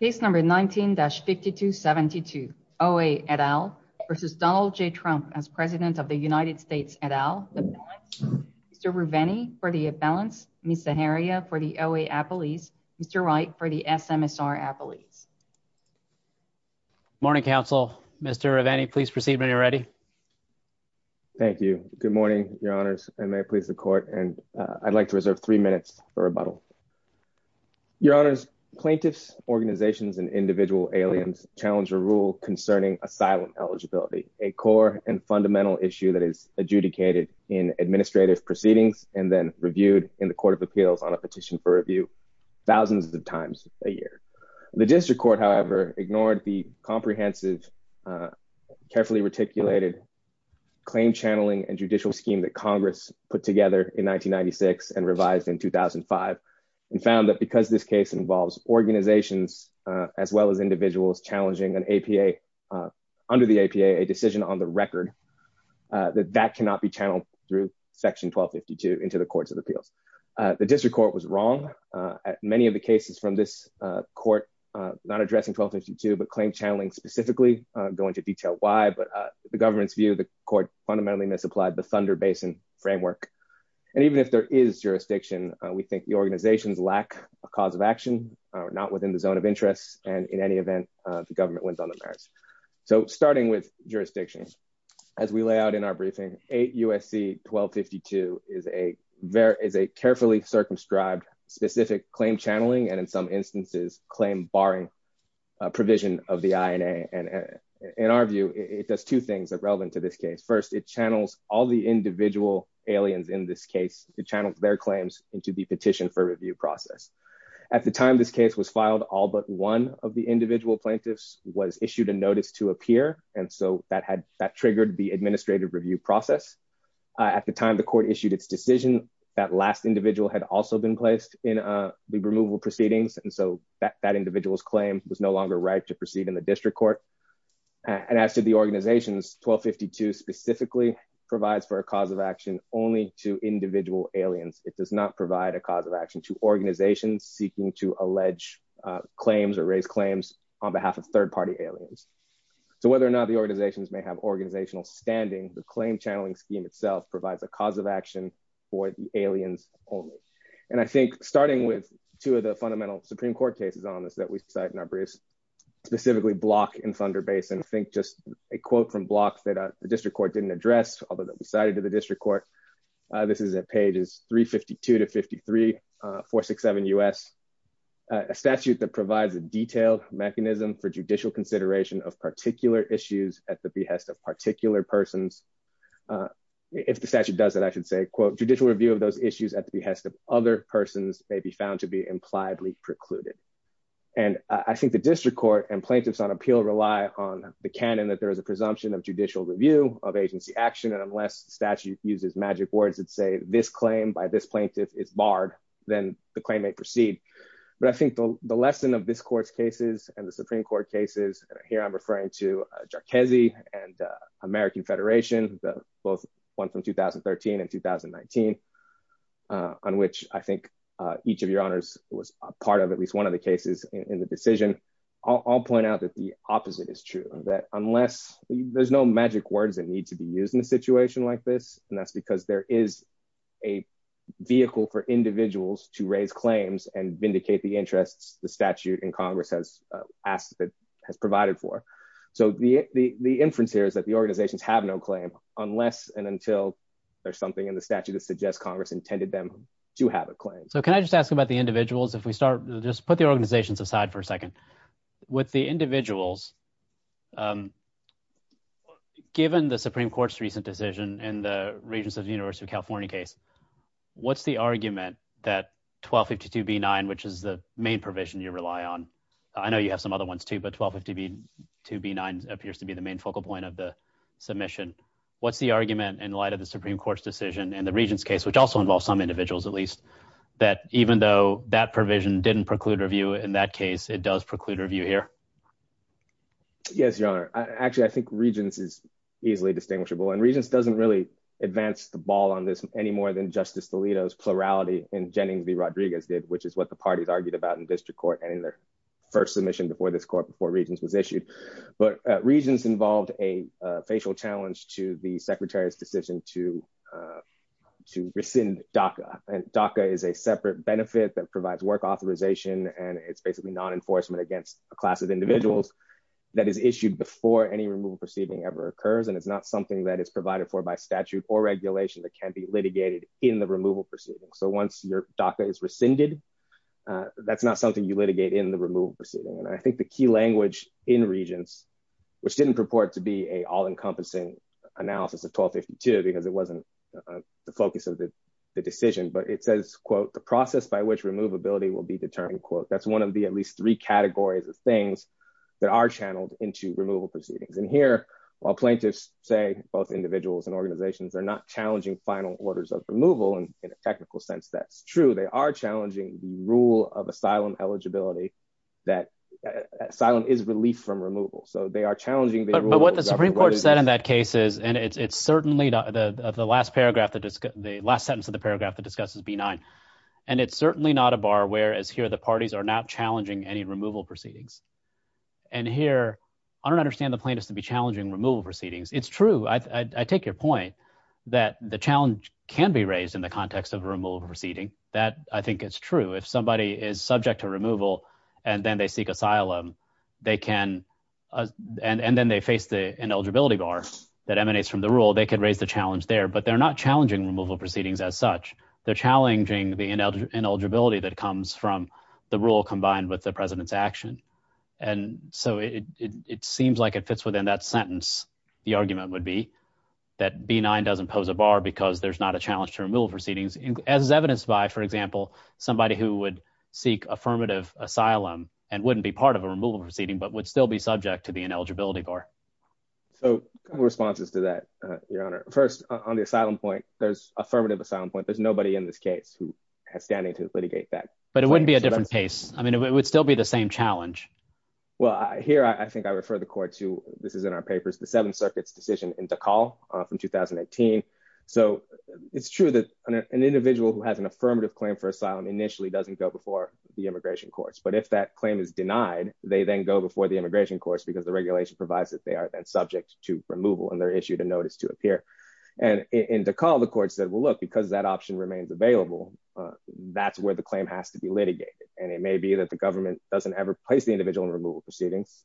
Case number 19-5272, O.A. et al. v. Donald J. Trump as President of the United States et al. Mr. Ruveni for the appellants, Ms. Zaharia for the O.A. appellees, Mr. Wright for the SMSR appellees. Morning, counsel. Mr. Ruveni, please proceed when you're ready. Thank you. Good morning, your honors, and may it please the court, and I'd like to reserve three minutes for rebuttal. Your honors, plaintiffs, organizations, and individual aliens challenge a rule concerning asylum eligibility, a core and fundamental issue that is adjudicated in administrative proceedings and then reviewed in the court of appeals on a petition for review thousands of times a year. The district court, however, ignored the comprehensive, carefully reticulated claim channeling and judicial scheme that Congress put together in 1996 and revised in 2005 and found that because this case involves organizations as well as individuals challenging under the APA a decision on the record, that that cannot be channeled through section 1252 into the courts of appeals. The district court was wrong. Many of the cases from this court, not addressing 1252, but claim channeling specifically, I'll go into detail why, but the government's view of the court fundamentally misapplied the Thunder Basin framework, and even if there is jurisdiction, we think the organizations lack a cause of action, not within the zone of interest, and in any event, the government wins on the merits. So starting with jurisdiction, as we lay out in our briefing, 8 U.S.C. 1252 is a carefully circumscribed specific claim channeling and in some instances claim barring provision of the INA, and in our view, it does two things that are relevant to this case. First, it channels all the individual aliens in this case, it channels their claims into the petition for review process. At the time this case was filed, all but one of the individual plaintiffs was issued a notice to appear, and so that triggered the administrative review process. At the time the court issued its decision, that last individual had also been placed in the removal proceedings, and so that individual's claim was no longer right to proceed in the district court, and as to the organizations, 1252 specifically provides for a cause of action only to individual aliens. It does not provide a cause of action to organizations seeking to allege claims or raise claims on behalf of third-party aliens. So whether or not the organizations may have organizational standing, the claim channeling scheme itself provides a cause of action for the aliens only, and I think starting with two of the fundamental Supreme Court cases on this that we cite in our briefs, specifically Block and Thunder Basin, I think just a quote from Block that the district court didn't address, although that we cited to the district court, this is at pages 352 to 53, 467 U.S., a statute that provides a detailed mechanism for judicial consideration of particular issues at the behest of particular persons. If the statute does that, I should say, quote, judicial review of those issues at the behest of other persons may be found to be impliedly precluded, and I think the district court and plaintiffs on appeal rely on the canon that there is a presumption of judicial review of agency action, and unless the statute uses magic words that say this claim by this plaintiff is barred, then the claim may proceed, but I think the lesson of this court's cases and the Supreme Court cases, here I'm referring to Jarchezi and American Federation, both one from 2013 and 2019, on which I think each of your honors was a part of at least one of the cases in the decision, I'll point out that the opposite is true, that unless, there's no magic words that need to be used in a situation like this, and that's because there is a vehicle for individuals to raise claims and vindicate the interests the statute in Congress has asked, has provided for, so the inference here is that the organizations have no claim unless and until there's something in the Congress intended them to have a claim. So can I just ask about the individuals, if we start, just put the organizations aside for a second. With the individuals, given the Supreme Court's recent decision and the Regents of the University of California case, what's the argument that 1252b9, which is the main provision you rely on, I know you have some other ones too, but 1252b9 appears to be the main focal point of the submission, what's the argument in light of the Supreme Court's decision and the Regents case, which also involves some individuals at least, that even though that provision didn't preclude review in that case, it does preclude review here? Yes, your honor. Actually, I think Regents is easily distinguishable and Regents doesn't really advance the ball on this any more than Justice DeLito's plurality in Jennings v. Rodriguez did, which is what the parties argued about in district court and in their first submission before this court, before Regents was issued. But Regents involved a facial challenge to the Secretary's decision to rescind DACA. DACA is a separate benefit that provides work authorization and it's basically non-enforcement against a class of individuals that is issued before any removal proceeding ever occurs. And it's not something that is provided for by statute or regulation that can be litigated in the removal proceeding. So once your DACA is rescinded, that's not something you litigate in the removal proceeding. And I think the key language in Regents, which didn't purport to be an all-encompassing analysis of 1252 because it wasn't the focus of the decision, but it says, quote, the process by which removability will be determined, quote, that's one of the at least three categories of things that are channeled into removal proceedings. And here, while plaintiffs say both individuals and organizations are not challenging final orders of removal, and in a technical sense, that's true, they are challenging the rule of asylum eligibility, that asylum is relief from removal. So they are challenging- But what the Supreme Court said in that case is, and it's certainly the last sentence of the paragraph that discusses B9, and it's certainly not a bar where as here the parties are not challenging any removal proceedings. And here, I don't understand the plaintiffs to be challenging removal proceedings. It's true, I take your point that the challenge can be raised in the context of a removal proceeding. That, I think, is true. If somebody is subject to removal and then they seek asylum, they can, and then they face the ineligibility bar that emanates from the rule, they could raise the challenge there. But they're not challenging removal proceedings as such. They're challenging the ineligibility that comes from the rule combined with the President's action. And so it seems like it fits within that sentence, the argument would be, that B9 doesn't pose a bar because there's not a challenge to removal proceedings, as is evidenced by, for example, somebody who would seek affirmative asylum and wouldn't be part of a removal proceeding, but would still be subject to the ineligibility bar. So a couple responses to that, Your Honor. First, on the asylum point, there's affirmative asylum point, there's nobody in this case who has standing to litigate that. But it wouldn't be a different case. I mean, it would still be the same challenge. Well, here I think I refer the Court to, this is in our papers, the Seventh Circuit's decision in 2018. So it's true that an individual who has an affirmative claim for asylum initially doesn't go before the immigration courts. But if that claim is denied, they then go before the immigration courts, because the regulation provides that they are then subject to removal and they're issued a notice to appear. And in DeKalb, the Court said, well, look, because that option remains available, that's where the claim has to be litigated. And it may be that the government doesn't ever place the individual in removal proceedings.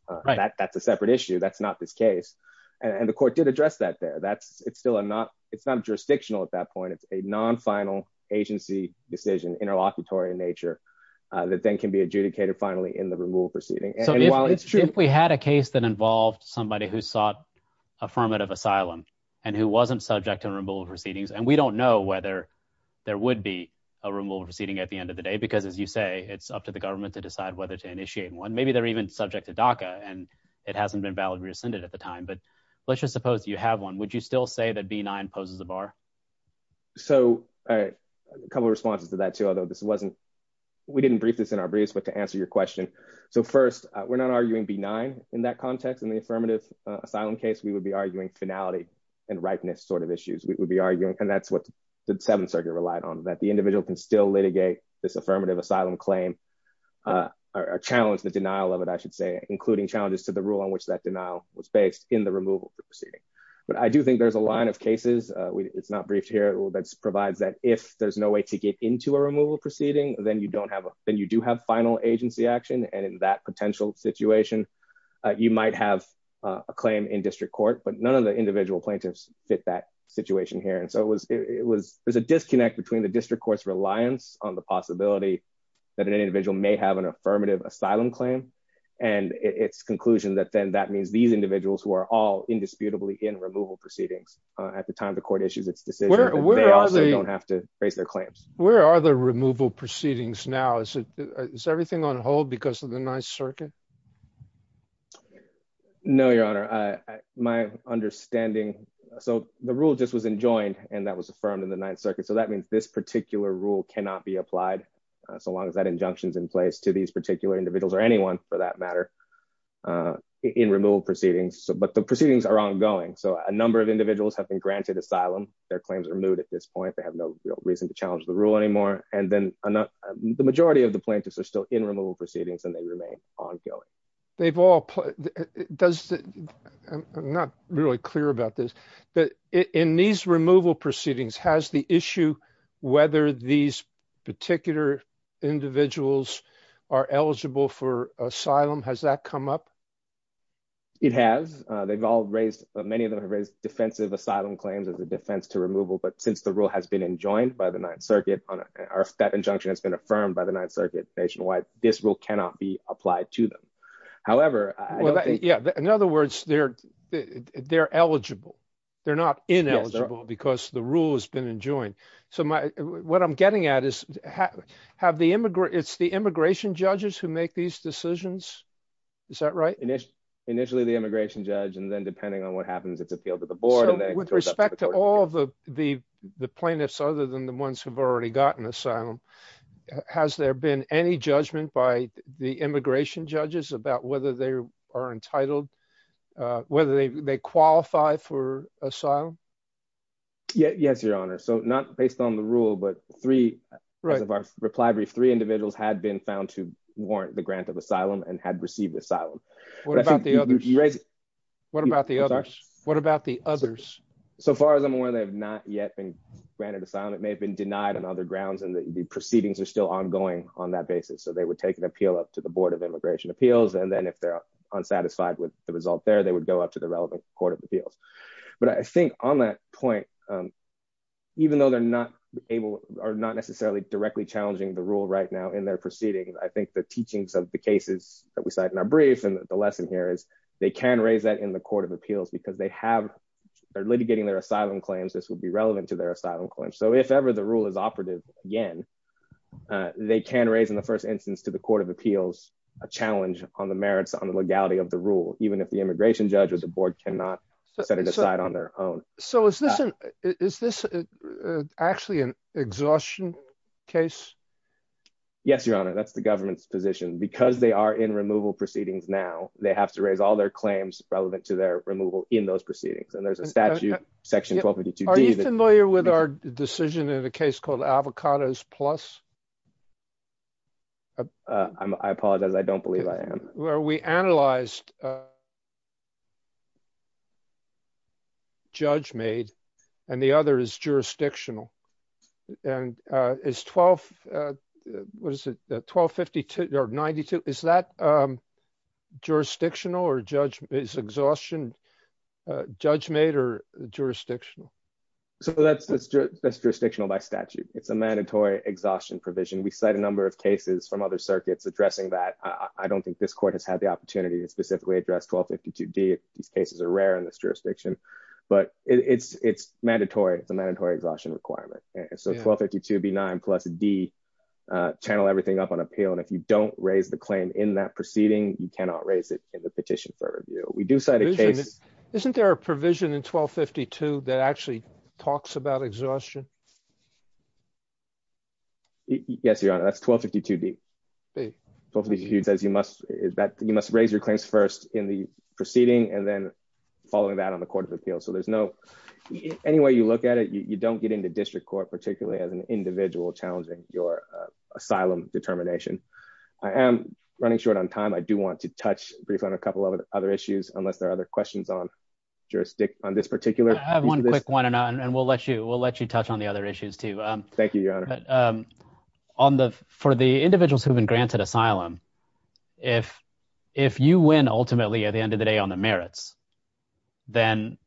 That's a separate issue. That's not this case. And the it's not jurisdictional at that point. It's a non-final agency decision, interlocutory in nature, that then can be adjudicated finally in the removal proceeding. So if we had a case that involved somebody who sought affirmative asylum, and who wasn't subject to removal proceedings, and we don't know whether there would be a removal proceeding at the end of the day, because as you say, it's up to the government to decide whether to initiate one. Maybe they're even subject to DACA, and it hasn't been validly rescinded at the time. But let's just suppose you have one, would you still say that B-9 poses a bar? So a couple of responses to that too, although this wasn't, we didn't brief this in our briefs, but to answer your question. So first, we're not arguing B-9 in that context. In the affirmative asylum case, we would be arguing finality and ripeness sort of issues. We would be arguing, and that's what the Seventh Circuit relied on, that the individual can still litigate this affirmative asylum claim, or challenge the denial of it, I should say, including challenges to the rule on which that denial was based in the removal proceeding. But I do think there's a line of cases, it's not briefed here, that provides that if there's no way to get into a removal proceeding, then you don't have a, then you do have final agency action, and in that potential situation, you might have a claim in district court, but none of the individual plaintiffs fit that situation here. And so it was, it was, there's a disconnect between the district court's reliance on the possibility that an individual may have an affirmative asylum claim, and it's conclusion that then that means these individuals who are all indisputably in removal proceedings at the time the court issues its decision, they also don't have to raise their claims. Where are the removal proceedings now? Is it, is everything on hold because of the Ninth Circuit? No, Your Honor. My understanding, so the rule just was enjoined, and that was affirmed in the Ninth Circuit. So that means this particular rule cannot be applied, so long as that injunction's in place, to these particular individuals, or anyone for that matter, in removal proceedings. But the proceedings are ongoing, so a number of individuals have been granted asylum, their claims are moot at this point, they have no real reason to challenge the rule anymore, and then the majority of the plaintiffs are still in removal proceedings, and they remain ongoing. They've all, does, I'm not really clear about this, but in these removal proceedings, has the issue whether these particular individuals are eligible for asylum, has that come up? It has. They've all raised, many of them have raised defensive asylum claims as a defense to removal, but since the rule has been enjoined by the Ninth Circuit, or that injunction has been affirmed by the Ninth Circuit nationwide, this rule cannot be applied to them. However, I don't think- Yeah, in other words, they're eligible. They're not ineligible because the rule has been enjoined. What I'm getting at is, it's the immigration judges who make these decisions? Is that right? Initially, the immigration judge, and then depending on what happens, it's appealed to the board, and then- So, with respect to all the plaintiffs, other than the ones who've already gotten asylum, has there been any judgment by the immigration judges about whether they qualify for asylum? Yes, Your Honor. So, not based on the rule, but three, as of our reply brief, three individuals had been found to warrant the grant of asylum and had received asylum. What about the others? What about the others? What about the others? So far as I'm aware, they have not yet been granted asylum. It may have been denied on other grounds, and the proceedings are still ongoing on that basis. So, they would take an appeal up to the Board of Immigration Appeals, and then if they're unsatisfied with the result there, they go up to the relevant Court of Appeals. But I think on that point, even though they're not necessarily directly challenging the rule right now in their proceedings, I think the teachings of the cases that we cite in our brief and the lesson here is, they can raise that in the Court of Appeals because they're litigating their asylum claims. This would be relevant to their asylum claims. So, if ever the rule is operative again, they can raise in the first instance to the Court of Appeals a challenge on the merits, on the legality of the rule, even if the immigration judge or the board cannot set it aside on their own. So, is this actually an exhaustion case? Yes, Your Honor, that's the government's position. Because they are in removal proceedings now, they have to raise all their claims relevant to their removal in those proceedings. And there's a statute, Section 1252D. Are you familiar with our decision in a case called Avocados Plus? I apologize. I don't believe I am. Where we analyzed judge-made and the other is jurisdictional. And is 12, what is it, 1252 or 92, is that jurisdictional or judge, is exhaustion judge-made or jurisdictional? So, that's jurisdictional by statute. It's a mandatory exhaustion provision. We cite a number of cases from other circuits addressing that. I don't think this court has had the opportunity to specifically address 1252D. These cases are rare in this jurisdiction. But it's mandatory. It's a mandatory exhaustion requirement. So, 1252B9 plus D channel everything up on appeal. And if you don't raise the claim in that proceeding, you cannot raise it in the petition for review. We do cite a case. Isn't there a provision in 1252 that actually talks about exhaustion? Yes, Your Honor. That's 1252D. 1252D says you must raise your claims first in the proceeding and then following that on the Court of Appeals. So, there's no, any way you look at it, you don't get into district court, particularly as an individual challenging your asylum determination. I am running short on time. I do want to touch briefly on a couple of other issues unless there are other questions on jurisdiction, on this particular. I have one quick one and we'll let you touch on the other issues too. Thank you, Your Honor. For the individuals who've been granted asylum, if you win ultimately at the end of the day on the merits, then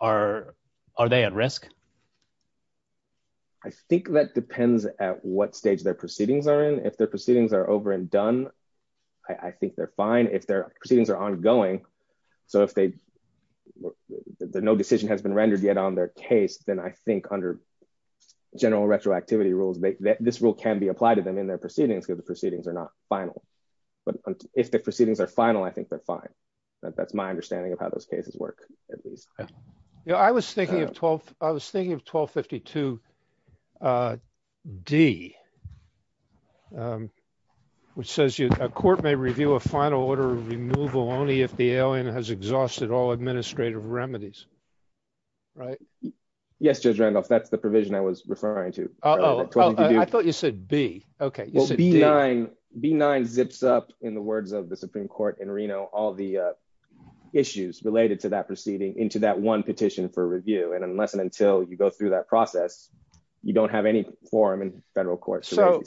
are they at risk? I think that depends at what stage their proceedings are in. If their proceedings are over and done, I think they're fine. If their proceedings are ongoing, so if they, no decision has been rendered yet on their case, then I think under general retroactivity rules, this rule can be applied to them in their proceedings because the proceedings are not final. But if the proceedings are final, I think they're fine. That's my understanding of how those cases work. I was thinking of 1252 D, which says a court may review a final order of removal only if the alien has exhausted all administrative remedies, right? Yes, Judge Randolph, that's the provision I was referring to. I thought you said B. Okay. B9 zips up in the related to that proceeding into that one petition for review. And unless and until you go through that process, you don't have any forum in federal court. So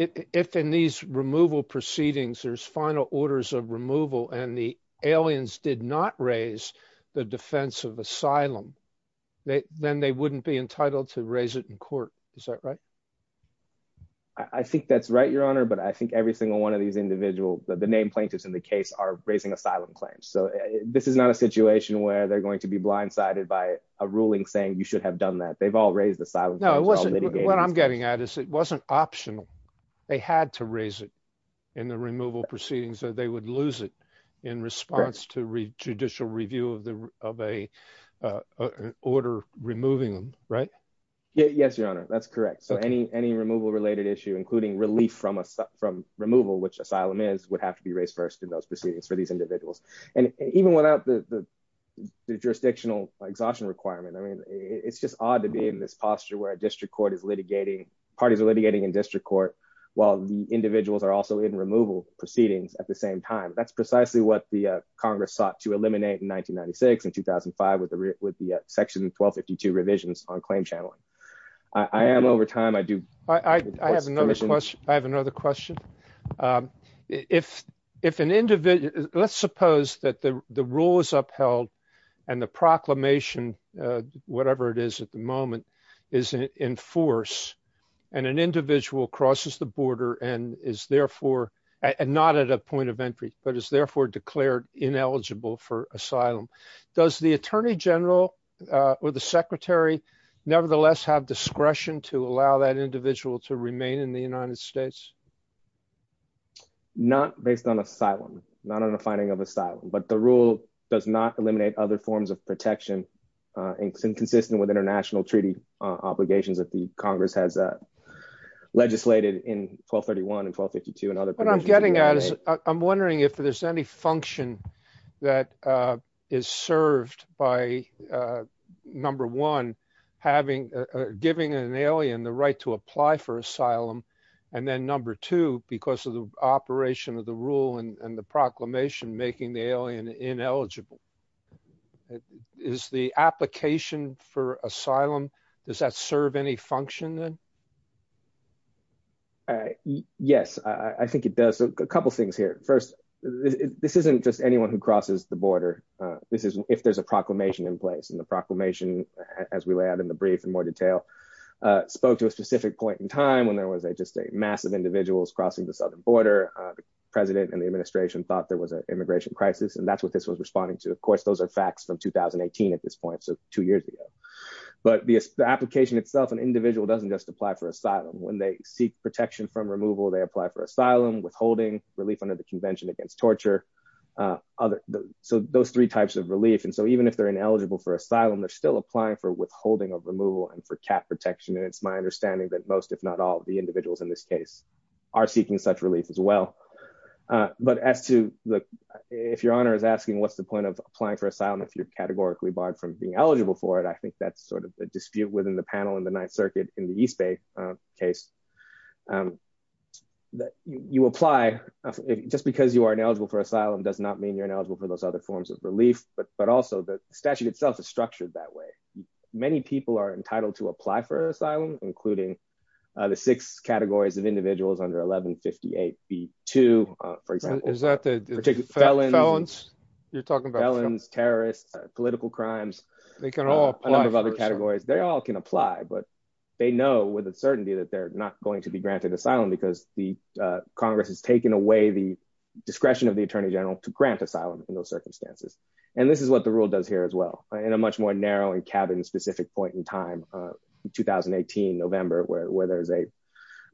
if in these removal proceedings, there's final orders of removal and the aliens did not raise the defense of asylum, then they wouldn't be entitled to raise it in court. Is that right? I think that's right, Your Honor. But I think every single one of these individuals, the name plaintiffs in the case are raising asylum claims. So this is not a situation where they're going to be blindsided by a ruling saying you should have done that. They've all raised asylum. No, it wasn't. What I'm getting at is it wasn't optional. They had to raise it in the removal proceedings, so they would lose it in response to read judicial review of the of a order removing them, right? Yes, Your Honor, that's correct. So any any removal related issue, including relief from us from removal, which asylum is would have to be raised first in those proceedings for these individuals. And even without the jurisdictional exhaustion requirement, I mean, it's just odd to be in this posture where a district court is litigating parties are litigating in district court, while the individuals are also in removal proceedings at the same time. That's precisely what the Congress sought to eliminate in 1996 and 2005 with the section 1252 revisions on claim channeling. I am over time. I do. I have another question. I have another question. If if an individual let's suppose that the rule is upheld and the proclamation, whatever it is at the moment, is in force and an individual crosses the border and is therefore not at a point of entry, but is therefore declared ineligible for asylum. Does the attorney general or the secretary nevertheless have discretion to allow that individual to remain in the United States? Not based on asylum, not on the finding of asylum, but the rule does not eliminate other forms of protection and inconsistent with international treaty obligations that the I'm wondering if there's any function that is served by number one, having giving an alien the right to apply for asylum. And then number two, because of the operation of the rule and the proclamation making the alien ineligible is the application for asylum. Does that serve any function? Yes, I think it does. A couple of things here. First, this isn't just anyone who crosses the border. This is if there's a proclamation in place and the proclamation, as we lay out in the brief in more detail, spoke to a specific point in time when there was a just a massive individuals crossing the southern border. The president and the administration thought there was an immigration crisis. And that's what this was responding to. Of course, those are facts from 2018 at this point. Two years ago. But the application itself, an individual doesn't just apply for asylum when they seek protection from removal. They apply for asylum withholding relief under the Convention Against Torture. So those three types of relief. And so even if they're ineligible for asylum, they're still applying for withholding of removal and for cap protection. And it's my understanding that most, if not all of the individuals in this case are seeking such relief as well. But as to if your honor is asking, what's the point of applying for asylum if you're eligible for it? I think that's sort of the dispute within the panel in the Ninth Circuit in the East Bay case that you apply just because you are ineligible for asylum does not mean you're ineligible for those other forms of relief. But but also the statute itself is structured that way. Many people are entitled to apply for asylum, including the six categories of individuals under 1158 B2, for example. Is that the particular felons? You're talking about felons, terrorists, political crimes. They can all a lot of other categories. They all can apply, but they know with a certainty that they're not going to be granted asylum because the Congress has taken away the discretion of the attorney general to grant asylum in those circumstances. And this is what the rule does here as well. In a much more narrow and cabin specific point in time, 2018, November, where there is a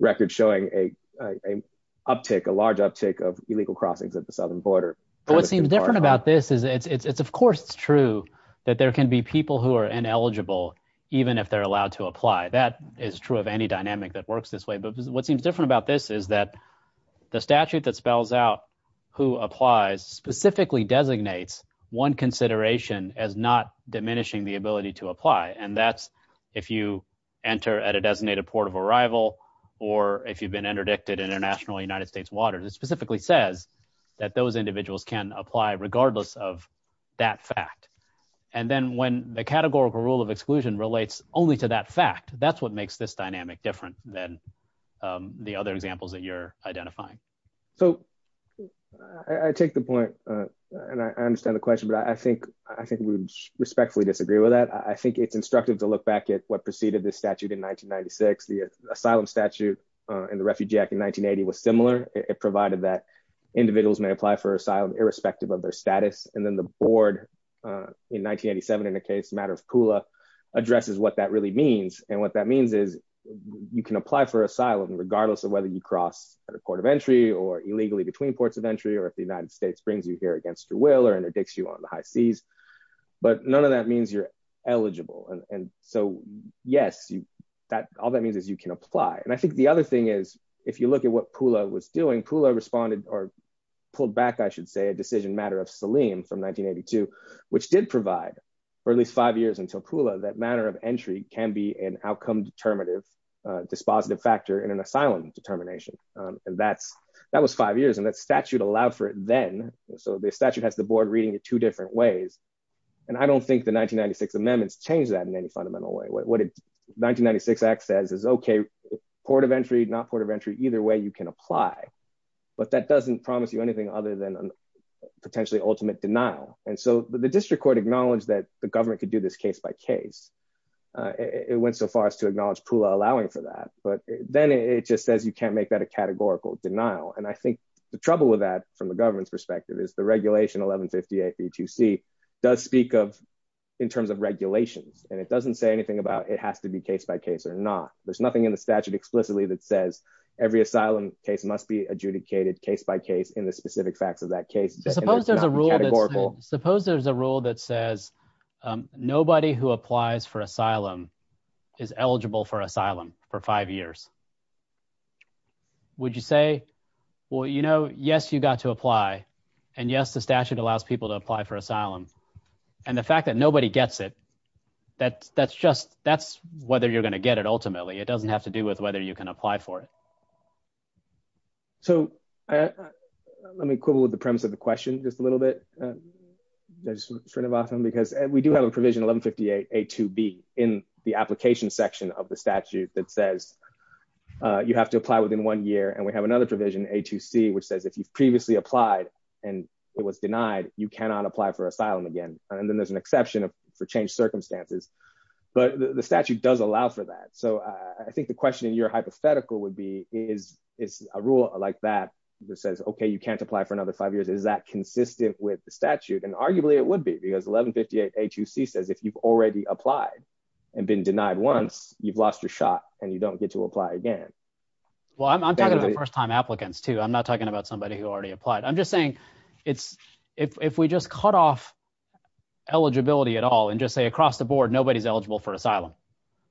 record showing a uptick, a large uptick of illegal crossings at the southern border. What seems different about this is it's of course it's true that there can be people who are ineligible even if they're allowed to apply. That is true of any dynamic that works this way. But what seems different about this is that the statute that spells out who applies specifically designates one consideration as not diminishing the ability to apply. And that's if you enter at a designated port of arrival or if you've been interdicted in United States waters, it specifically says that those individuals can apply regardless of that fact. And then when the categorical rule of exclusion relates only to that fact, that's what makes this dynamic different than the other examples that you're identifying. So I take the point, and I understand the question, but I think we respectfully disagree with that. I think it's instructive to look back at what preceded this statute in 1996, the asylum statute in the Refugee Act in 1980 was similar. It provided that individuals may apply for asylum irrespective of their status. And then the board in 1987 in the case matter of Pula addresses what that really means. And what that means is you can apply for asylum regardless of whether you cross at a port of entry or illegally between ports of entry, or if the United States brings you here against your will or interdicts you on the high seas. But none of that means you're can apply. And I think the other thing is, if you look at what Pula was doing, Pula responded or pulled back, I should say, a decision matter of Saleem from 1982, which did provide for at least five years until Pula that matter of entry can be an outcome dispositive factor in an asylum determination. And that was five years and that statute allowed for it then. So the statute has the board reading it two different ways. And I don't think the 1996 amendments changed that in fundamental way. What did 1996 act says is, okay, port of entry, not port of entry, either way you can apply, but that doesn't promise you anything other than potentially ultimate denial. And so the district court acknowledged that the government could do this case by case. It went so far as to acknowledge Pula allowing for that, but then it just says you can't make that a categorical denial. And I think the trouble with that from the government's perspective is the anything about it has to be case by case or not. There's nothing in the statute explicitly that says every asylum case must be adjudicated case by case in the specific facts of that case. Suppose there's a rule that says nobody who applies for asylum is eligible for asylum for five years. Would you say, well, you know, yes, you got to apply. And yes, the statute allows people to apply for asylum. And the fact that nobody gets it, that's whether you're going to get it ultimately. It doesn't have to do with whether you can apply for it. So let me quibble with the premise of the question just a little bit. Because we do have a provision 1158 A2B in the application section of the statute that says you have to apply within one year. And we have another provision A2C, which says if you've you cannot apply for asylum again. And then there's an exception for changed circumstances. But the statute does allow for that. So I think the question in your hypothetical would be, is a rule like that that says, OK, you can't apply for another five years. Is that consistent with the statute? And arguably it would be because 1158 A2C says if you've already applied and been denied once, you've lost your shot and you don't get to apply again. Well, I'm talking about first time applicants, too. I'm not talking about somebody who already applied. I'm just saying it's if we just cut off eligibility at all and just say across the board, nobody's eligible for asylum.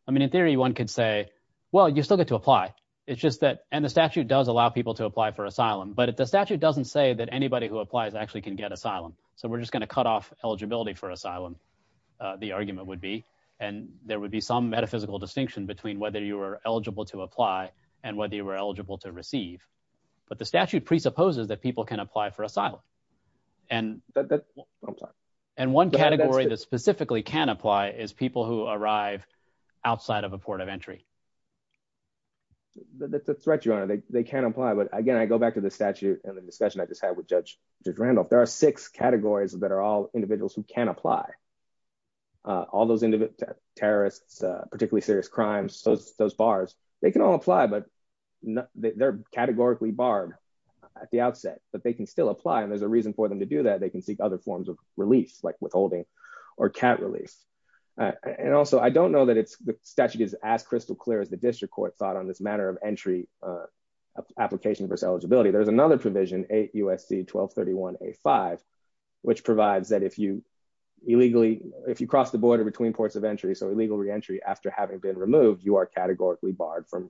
I mean, in theory, one could say, well, you still get to apply. It's just that and the statute does allow people to apply for asylum. But the statute doesn't say that anybody who applies actually can get asylum. So we're just going to cut off eligibility for asylum. The argument would be and there would be some metaphysical distinction between whether you were eligible to apply and whether you were eligible to receive. But the statute presupposes that people can apply for asylum. And one category that specifically can apply is people who arrive outside of a port of entry. That's a threat, Your Honor. They can apply. But again, I go back to the statute and the discussion I just had with Judge Randolph. There are six categories that are all individuals who can apply. All those terrorists, particularly serious crimes, those bars, they can all apply, but they're categorically barred at the outset, but they can still apply. And there's a reason for them to do that. They can seek other forms of release, like withholding or can't release. And also, I don't know that it's the statute is as crystal clear as the district court thought on this matter of entry application versus eligibility. There's another provision, 8 U.S.C. 1231 A5, which provides that if you illegally if you cross the border between ports of entry, so illegal reentry after having been removed, you are categorically barred from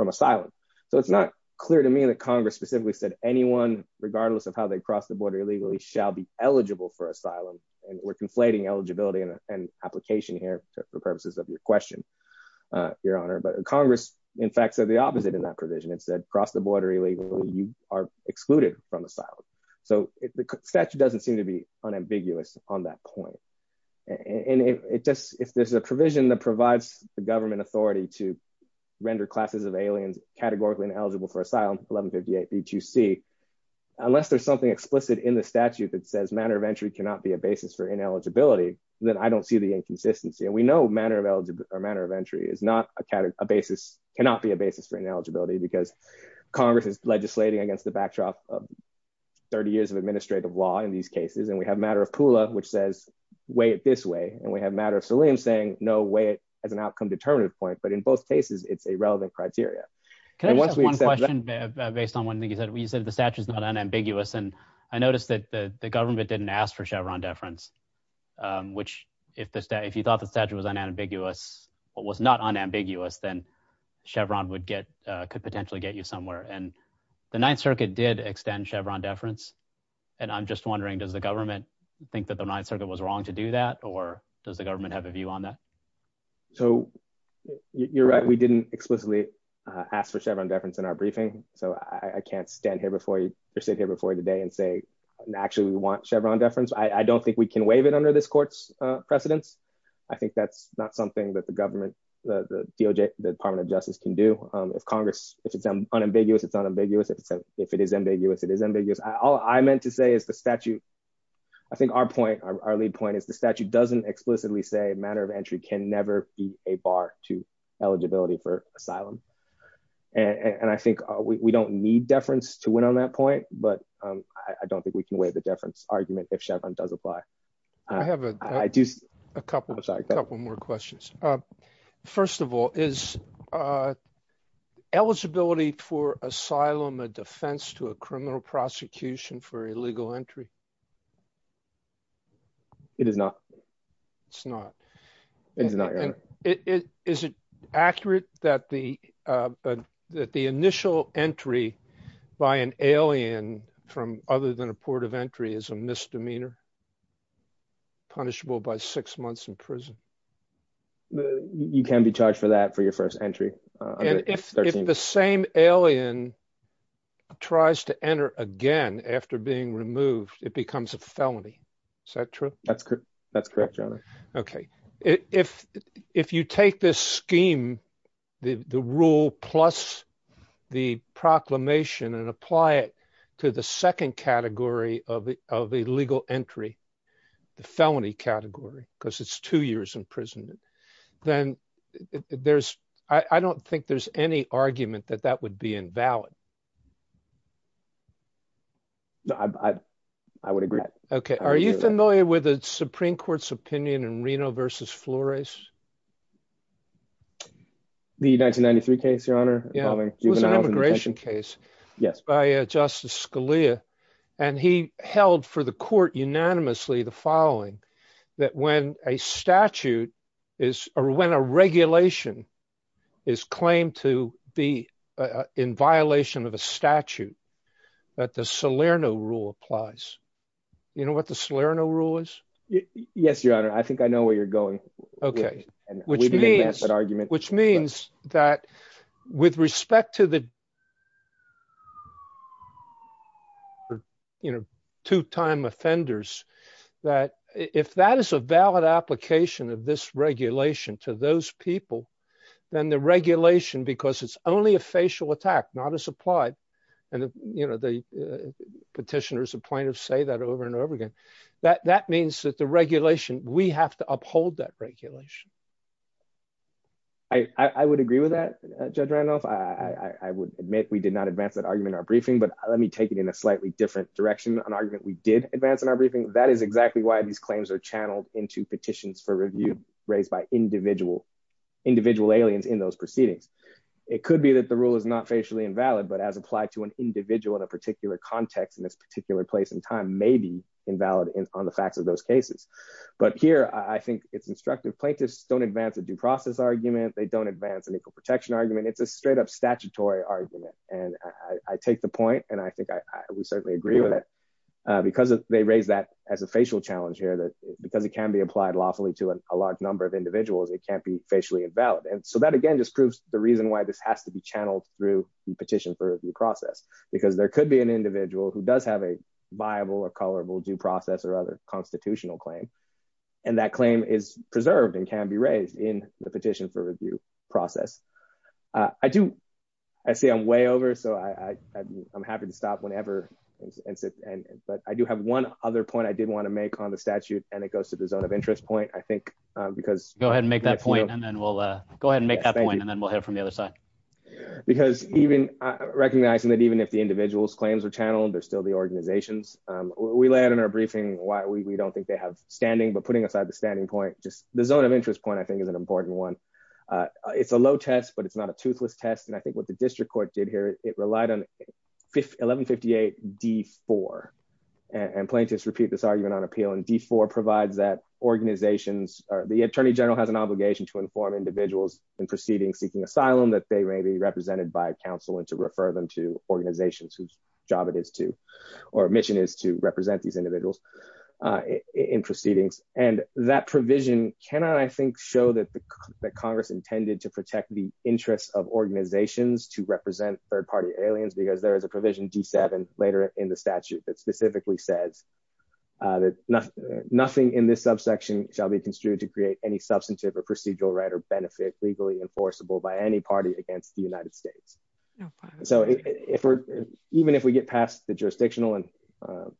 asylum. So it's not clear to me that Congress specifically said anyone, regardless of how they cross the border illegally, shall be eligible for asylum. And we're conflating eligibility and application here for purposes of your question, Your Honor. But Congress, in fact, said the opposite in that provision. It said cross the border illegally, you are excluded from asylum. So the statute doesn't seem to be unambiguous on that point. And it if there's a provision that provides the government authority to render classes of aliens categorically ineligible for asylum, 1158 B2C, unless there's something explicit in the statute that says manner of entry cannot be a basis for ineligibility, then I don't see the inconsistency. And we know manner of entry is not a basis, cannot be a basis for ineligibility because Congress is legislating against the backdrop of 30 years of administrative law in these cases. And we have a matter of Pula, which says, weigh it this way. And we have a matter of Selim saying no way as an outcome determinative point. But in both cases, it's a relevant criteria. Can I ask one question based on one thing you said? You said the statute is not unambiguous. And I noticed that the government didn't ask for Chevron deference, which if you thought the statute was unambiguous, but was not unambiguous, then Chevron could potentially get you somewhere. And the Ninth Circuit did extend Chevron deference. And I'm just wondering, does the government think that the Ninth Circuit was wrong to do that? Or does the government have a view on that? So you're right, we didn't explicitly ask for Chevron deference in our briefing. So I can't stand here before you sit here before you today and say, actually, we want Chevron deference. I don't think we can waive it under this court's precedence. I think that's not something that the government, the DOJ, the Department of Justice can do. If Congress, if it's unambiguous, it's unambiguous. If it is ambiguous, it is ambiguous. All I meant to say is the statute, I think our point, our lead point is the statute doesn't explicitly say a matter of entry can never be a bar to eligibility for asylum. And I think we don't need deference to win on that point. But I don't think we can waive the deference argument if Chevron does apply. I have a couple more questions. First of all, is eligibility for asylum a defense to a criminal prosecution for illegal entry? It is not. It's not. Is it accurate that the initial entry by an alien from other than a port of entry is a misdemeanor punishable by six months in prison? You can be charged for that for your first entry. And if the same alien tries to enter again after being removed, it becomes a felony. Is that true? That's correct. That's correct, your honor. Okay. If you take this scheme, the rule plus the proclamation and apply it to the second category of illegal entry, the felony category, because it's two years imprisonment, then there's, I don't think there's any argument that that would be invalid. No, I would agree. Okay. Are you familiar with the Supreme Court's opinion in Reno versus Flores? The 1993 case, your honor. Yeah. It was an immigration case by Justice Scalia. And he held for the court unanimously the following that when a statute is, or when a regulation is claimed to be in violation of a statute, that the Salerno rule applies. You know what the Salerno rule is? Yes, your honor. I think I know where you're going. Okay. Which means that argument, which means that with respect to the two time offenders, that if that is a valid application of this regulation to those people, then the regulation, because it's only a facial attack, not as applied. And the petitioners, the plaintiffs say that over and over again, that means that the regulation, we have to uphold that regulation. I would agree with that, Judge Randolph. I would admit we did advance that argument in our briefing, but let me take it in a slightly different direction. An argument we did advance in our briefing. That is exactly why these claims are channeled into petitions for review raised by individual aliens in those proceedings. It could be that the rule is not facially invalid, but as applied to an individual in a particular context in this particular place in time, maybe invalid on the facts of those cases. But here I think it's instructive. Plaintiffs don't advance a due process argument. They don't advance an equal argument. And I take the point, and I think I would certainly agree with it, because they raised that as a facial challenge here, that because it can be applied lawfully to a large number of individuals, it can't be facially invalid. And so that again, just proves the reason why this has to be channeled through the petition for review process, because there could be an individual who does have a viable or colorable due process or other constitutional claim. And that claim is preserved and can be raised in the petition for review process. I do, I see I'm way over, so I'm happy to stop whenever. But I do have one other point I did want to make on the statute, and it goes to the zone of interest point, I think, because- Go ahead and make that point, and then we'll hit it from the other side. Because even recognizing that even if the individual's claims are channeled, they're still the organizations. We lay out in our briefing why we don't think they have standing, but putting aside the standing point, just the zone of interest point I think is an but it's not a toothless test. And I think what the district court did here, it relied on 1158 D4. And plaintiffs repeat this argument on appeal and D4 provides that organizations or the attorney general has an obligation to inform individuals in proceedings seeking asylum that they may be represented by counsel and to refer them to organizations whose job it is to, or mission is to represent these individuals in proceedings. And that provision cannot, I think, show that Congress intended to protect the interests of organizations to represent third party aliens, because there is a provision D7 later in the statute that specifically says that nothing in this subsection shall be construed to create any substantive or procedural right or benefit legally enforceable by any party against the United States. So even if we get past the jurisdictional and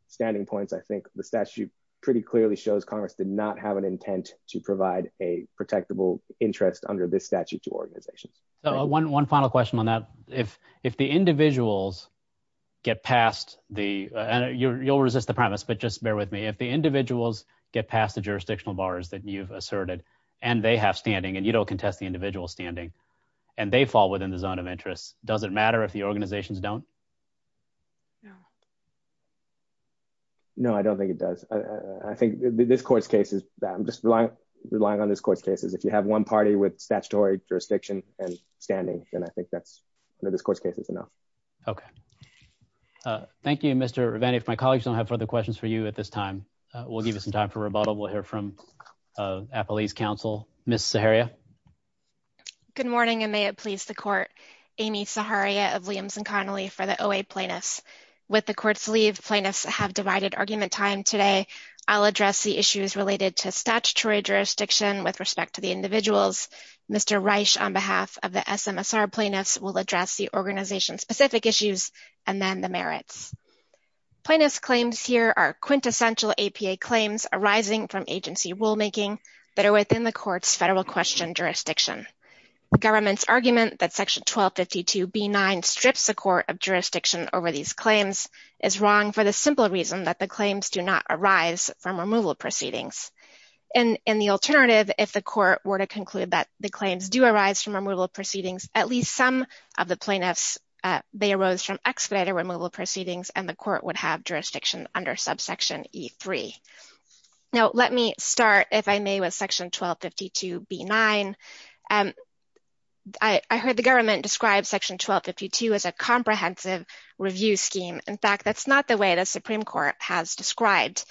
standing points, I think the statute pretty clearly shows Congress did not have an intent to provide a protectable interest under this statute to organizations. So one final question on that. If the individuals get past the, and you'll resist the premise, but just bear with me. If the individuals get past the jurisdictional bars that you've asserted, and they have standing, and you don't contest the individual standing, and they fall within the zone of interest, does it matter if the organizations don't? No, I don't think it does. I think this court's case is that I'm just relying on this court's cases. If you have one party with statutory jurisdiction and standing, then I think that's under this court's cases enough. Okay. Thank you, Mr. Reveni. If my colleagues don't have further questions for you at this time, we'll give you some time for rebuttal. We'll hear from Appalachian Council, Ms. Zaharia. Good morning, and may it please the court, Amy Zaharia of Williams & Connolly for the OA plaintiffs. With the court's leave, plaintiffs have divided argument time today. I'll address the issues related to statutory jurisdiction with respect to the individuals. Mr. Reich on behalf of the SMSR plaintiffs will address the organization specific issues, and then the merits. Plaintiffs' claims here are quintessential APA claims arising from agency rulemaking that are within the court's federal question jurisdiction. The government's argument that section 1252B9 strips the court of jurisdiction over these claims is wrong for the simple reason that the claims do not arise from removal proceedings. And in the alternative, if the court were to conclude that the claims do arise from removal proceedings, at least some of the plaintiffs, they arose from expedited removal proceedings, and the court would have jurisdiction under subsection E3. Now, let me start, if I may, with section 1252B9. I heard the government describe section 1252 as a comprehensive review scheme. In fact, that's not the way the Supreme Court has described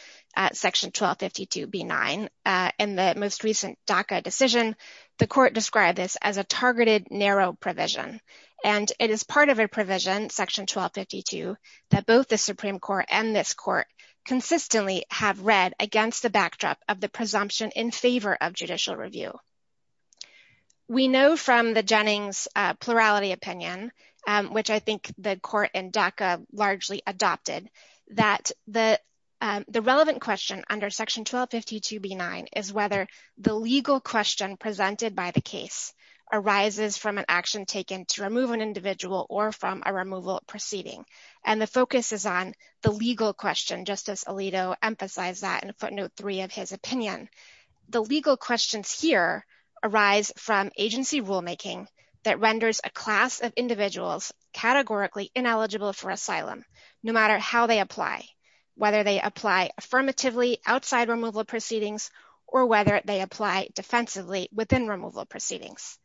section 1252B9. In the most recent DACA decision, the court described this as a targeted narrow provision, and it is part of a provision, section 1252, that both the Supreme Court and this court consistently have read against the backdrop of the presumption in favor of judicial review. We know from the Jennings plurality opinion, which I think the court in DACA largely adopted, that the relevant question under section 1252B9 is whether the legal question presented by the case arises from an action taken to remove an individual or from a removal proceeding. And the focus is on the legal question, just as Alito emphasized that in footnote three of his opinion. The legal questions here arise from agency rulemaking that renders a class of individuals categorically ineligible for asylum, no matter how they apply, whether they apply affirmatively outside removal proceedings or whether they apply defensively within removal proceedings.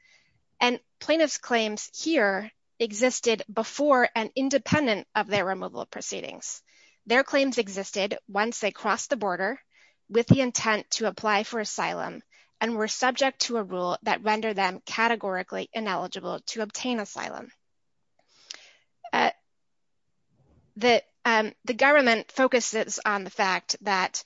And plaintiff's claims here existed before and independent of their removal proceedings. Their claims existed once they crossed the border with the intent to apply for asylum and were subject to a rule that rendered them categorically ineligible to obtain asylum. The government focuses on the fact that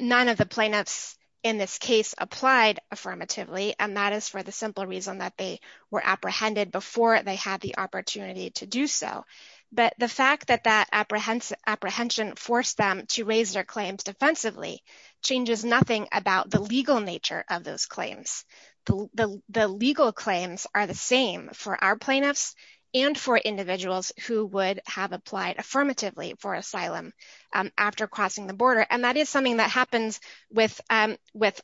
none of the plaintiffs in this case applied affirmatively, and that is for the simple reason that they were apprehended before they had the opportunity to do so. But the fact that that apprehension forced them to raise their claims defensively changes nothing about the legal nature of those claims. The legal claims are the same for our plaintiffs and for individuals who would have applied affirmatively for asylum after crossing the border, and that is something that happens with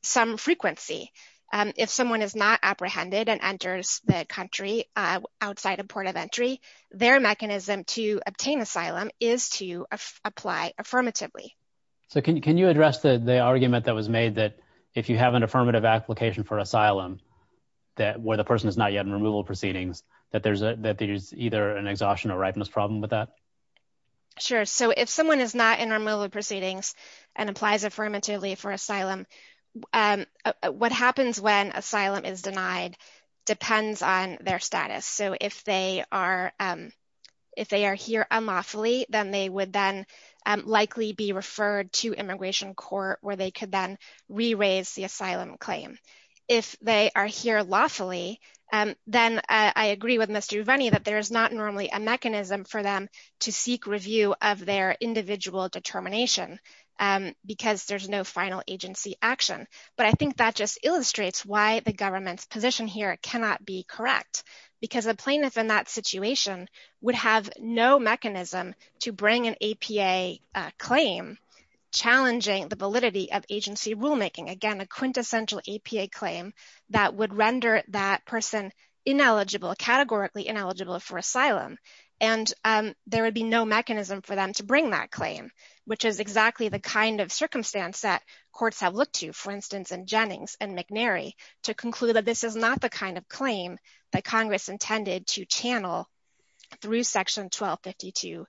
some frequency. If someone is not apprehended and enters the country outside a port of entry, their mechanism to obtain asylum is to apply affirmatively. So can you address the argument that was made that if you have an affirmative application for asylum where the person is not yet in removal proceedings, that there's either an exhaustion or ripeness problem with that? Sure. So if someone is not in removal proceedings and applies affirmatively for asylum, what happens when asylum is denied depends on their status. So if they are here unlawfully, then they would then likely be referred to immigration court where they could then re-raise the asylum claim. If they are here lawfully, then I agree with Mr. Uveni that there is not normally a mechanism for them to seek review of their individual determination because there's no final agency action. But I think that just illustrates why the government's position here cannot be correct because a plaintiff in that situation would have no mechanism to bring an APA claim challenging the validity of agency rulemaking. Again, a quintessential APA claim that would render that person ineligible, categorically ineligible for asylum. And there would be no mechanism for them to bring that claim, which is exactly the kind of circumstance that courts have looked to, for instance, in Jennings and McNary to conclude that this is not the kind of claim that Congress intended to channel through section 1252b9.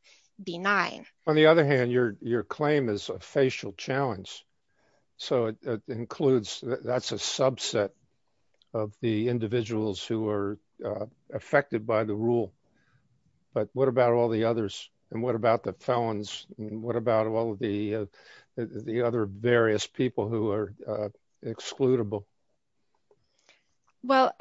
On the other hand, your claim is a facial challenge. So that's a subset of the individuals who are affected by the rule. But what about all the others? And what about the felons? What about all the other various people who are excludable? Well,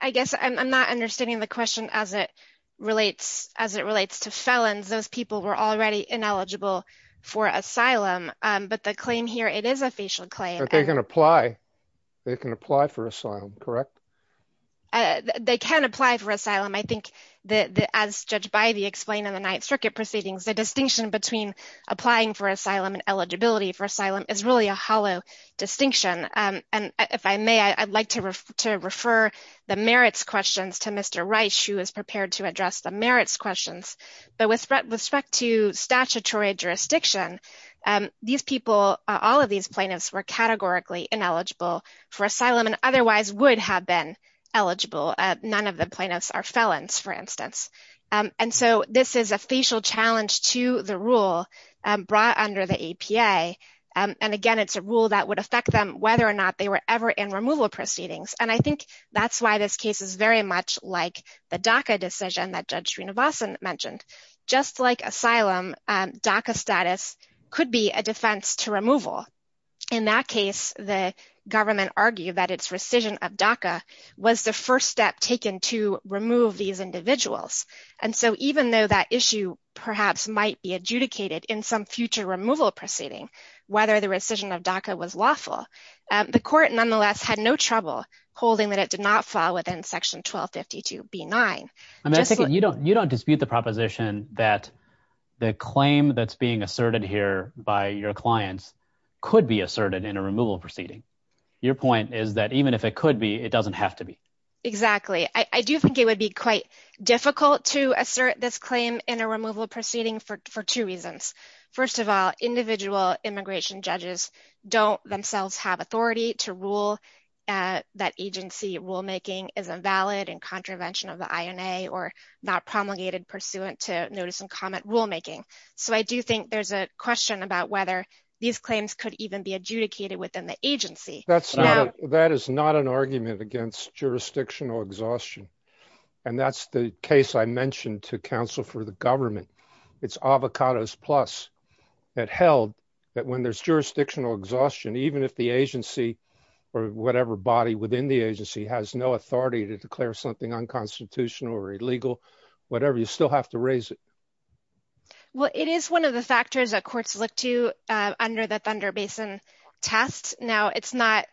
I guess I'm not understanding the question as it relates to felons. Those people were already ineligible for asylum. But the claim here, it is a facial claim. But they can apply. They can apply for asylum, correct? They can apply for asylum. I think that as judged by the explain in the Ninth Circuit proceedings, the distinction between applying for asylum and eligibility for asylum is really a hollow distinction. And if I may, I'd like to refer the merits questions to Mr. Rice, who is prepared to explain what the gist of this is. And I think that there's a lot of implications that the decision that we're making here is not a there was a decision that was made in a statutory jurisdiction. These people, all of these plaintiffs were categorically ineligible for asylum and otherwise would have been eligible. None of the plaintiffs are felons, for instance. And so this is a facial challenge to the rule brought under the APA. And again, it's a rule that would affect them whether or not they were ever in removal proceedings. And I think that's why this case is very much like the DACA decision that Judge DACA status could be a defense to removal. In that case, the government argued that its rescission of DACA was the first step taken to remove these individuals. And so even though that issue perhaps might be adjudicated in some future removal proceeding, whether the rescission of DACA was lawful, the court nonetheless had no trouble holding that it did not fall within Section 1252B9. You don't dispute the proposition that the claim that's being asserted here by your clients could be asserted in a removal proceeding. Your point is that even if it could be, it doesn't have to be. Exactly. I do think it would be quite difficult to assert this claim in a removal proceeding for two reasons. First of all, individual immigration judges don't themselves have authority to rule that agency rulemaking is invalid and contravention of the INA or not promulgated pursuant to notice and comment rulemaking. So I do think there's a question about whether these claims could even be adjudicated within the agency. That is not an argument against jurisdictional exhaustion. And that's the case I mentioned to counsel for the if the agency or whatever body within the agency has no authority to declare something unconstitutional or illegal, whatever, you still have to raise it. Well, it is one of the factors that courts look to under the Thunder Basin test. Now, it's not,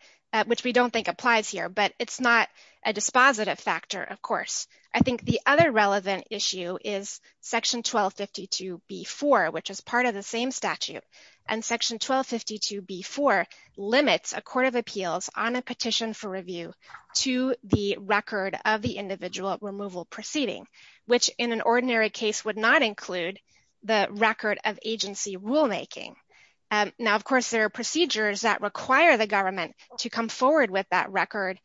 which we don't think applies here, but it's not a dispositive factor, of course. I think the other relevant issue is Section 1252B4, which is part of the same statute and Section 1252B4 limits a court of appeals on a petition for review to the record of the individual removal proceeding, which in an ordinary case would not include the record of agency rulemaking. Now, of course, there are procedures that require the government to come forward with that record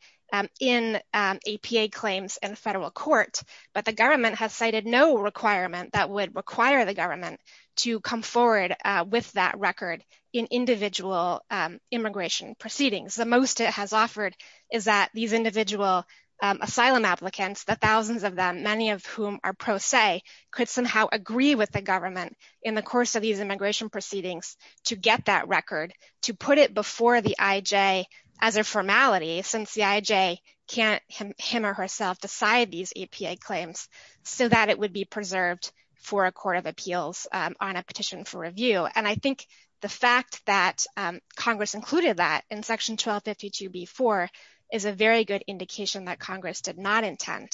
in APA claims in federal court, but the government has cited no requirement that would require the government to come forward with that record in individual immigration proceedings. The most it has offered is that these individual asylum applicants, the thousands of them, many of whom are pro se, could somehow agree with the government in the course of these immigration proceedings to get that record, to put it before the IJ as a so that it would be preserved for a court of appeals on a petition for review. And I think the fact that Congress included that in Section 1252B4 is a very good indication that Congress did not intend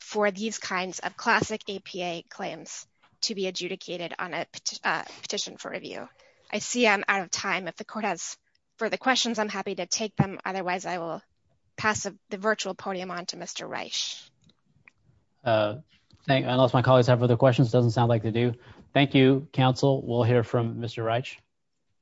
for these kinds of classic APA claims to be adjudicated on a petition for review. I see I'm out of time. If the court has further questions, I'm happy to take them. Otherwise, I will pass the virtual podium on to Mr. Reich. Thank you. Unless my colleagues have other questions, doesn't sound like they do. Thank you, counsel. We'll hear from Mr. Reich.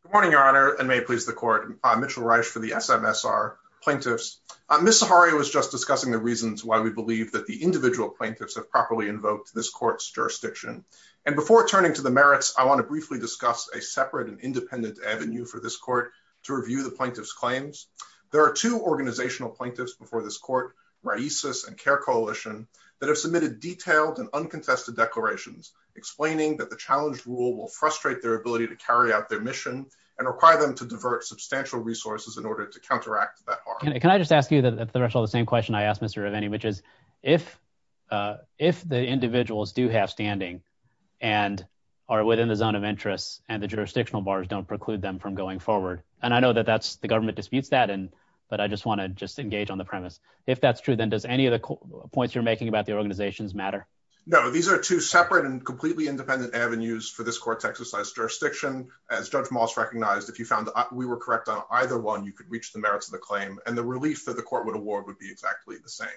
Good morning, Your Honor, and may it please the court. I'm Mitchell Reich for the SMSR plaintiffs. Ms. Sahari was just discussing the reasons why we believe that the individual plaintiffs have properly invoked this court's jurisdiction. And before turning to the merits, I want to briefly discuss a separate and independent avenue for this court to review the plaintiff's claims. There are two organizational plaintiffs before this court, Raices and Kerr Coalition, that have submitted detailed and uncontested declarations explaining that the challenge rule will frustrate their ability to carry out their mission and require them to divert substantial resources in order to counteract that harm. Can I just ask you the same question I asked Mr. Rivani, which is if if the individuals do have standing and are within the zone of interest and the jurisdictional bars don't preclude them from going forward. And I know the government disputes that, but I just want to just engage on the premise. If that's true, then does any of the points you're making about the organizations matter? No, these are two separate and completely independent avenues for this court to exercise jurisdiction. As Judge Moss recognized, if you found we were correct on either one, you could reach the merits of the claim and the relief that the court would award would be exactly the same.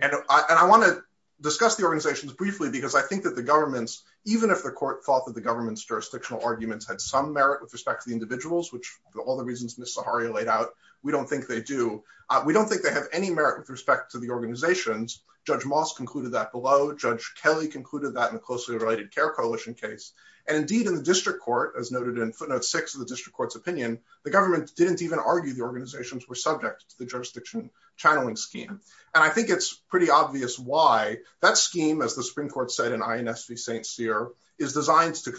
And I want to discuss the organizations briefly because I think that the government's, even if the court thought that the government's jurisdictional arguments had some merit with respect to the individuals, which all the reasons Ms. Zaharia laid out, we don't think they do. We don't think they have any merit with respect to the organizations. Judge Moss concluded that below. Judge Kelly concluded that in the closely related care coalition case. And indeed in the district court, as noted in footnote six of the district court's opinion, the government didn't even argue the organizations were subject to the jurisdiction channeling scheme. And I think it's pretty obvious why that scheme, as the Supreme Court said in INS v. St. Cyr is designed to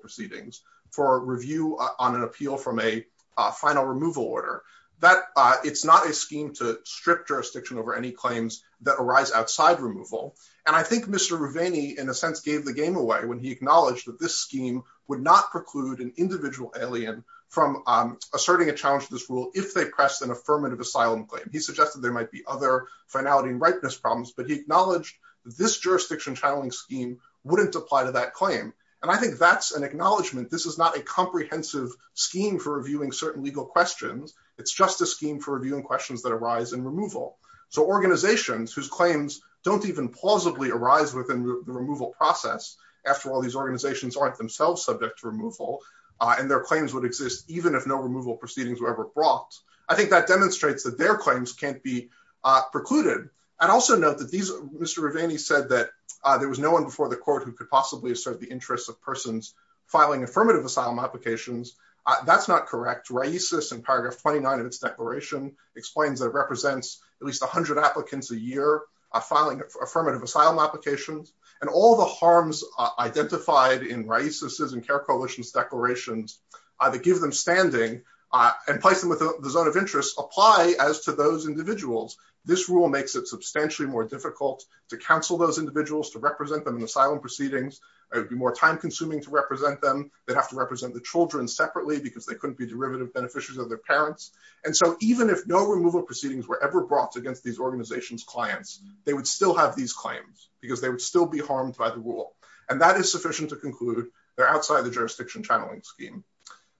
proceedings for review on an appeal from a final removal order that it's not a scheme to strip jurisdiction over any claims that arise outside removal. And I think Mr. Rivini in a sense gave the game away when he acknowledged that this scheme would not preclude an individual alien from asserting a challenge to this rule. If they pressed an affirmative asylum claim, he suggested there might be other finality and ripeness problems, but he acknowledged this jurisdiction channeling scheme wouldn't apply to that claim. And I think that's an acknowledgement. This is not a comprehensive scheme for reviewing certain legal questions. It's just a scheme for reviewing questions that arise in removal. So organizations whose claims don't even plausibly arise within the removal process. After all, these organizations aren't themselves subject to removal and their claims would exist even if no removal proceedings were ever brought. I think that demonstrates that their claims can't be precluded. And also note that Mr. Rivini said that there was no one before the court who could possibly assert the interests of persons filing affirmative asylum applications. That's not correct. RAICES in paragraph 29 of its declaration explains that it represents at least 100 applicants a year filing affirmative asylum applications. And all the harms identified in RAICES and CARE Coalition's declarations that give them standing and place them within the zone of interest apply as to those individuals. This rule makes it substantially more difficult to counsel those individuals, to represent them in asylum proceedings. It would be more time consuming to represent them. They'd have to represent the children separately because they couldn't be derivative beneficiaries of their parents. And so even if no removal proceedings were ever brought against these organization's clients, they would still have these claims because they would still be harmed by the rule. And that is sufficient to conclude they're outside the jurisdiction channeling scheme.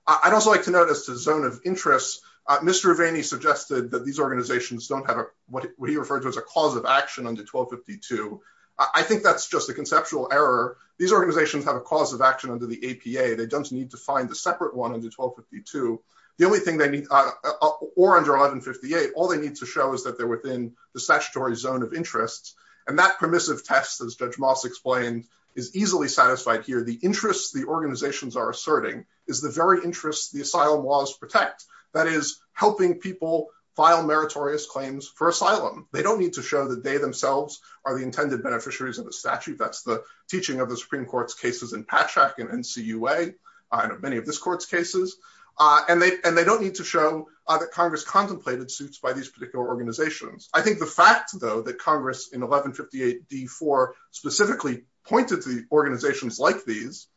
I'd also like to notice the zone of interest. Mr. Rivini suggested that these organizations don't what he referred to as a cause of action under 1252. I think that's just a conceptual error. These organizations have a cause of action under the APA. They don't need to find a separate one under 1252. The only thing they need, or under 1158, all they need to show is that they're within the statutory zone of interest. And that permissive test, as Judge Moss explained, is easily satisfied here. The interests the organizations are asserting is the very interests the asylum laws protect. That is, helping people file meritorious claims for asylum. They don't need to show that they themselves are the intended beneficiaries of the statute. That's the teaching of the Supreme Court's cases in Patchak and NCUA, and of many of this court's cases. And they don't need to show that Congress contemplated suits by these particular organizations. I think the fact, though, that Congress in 1158d4 specifically pointed to organizations like these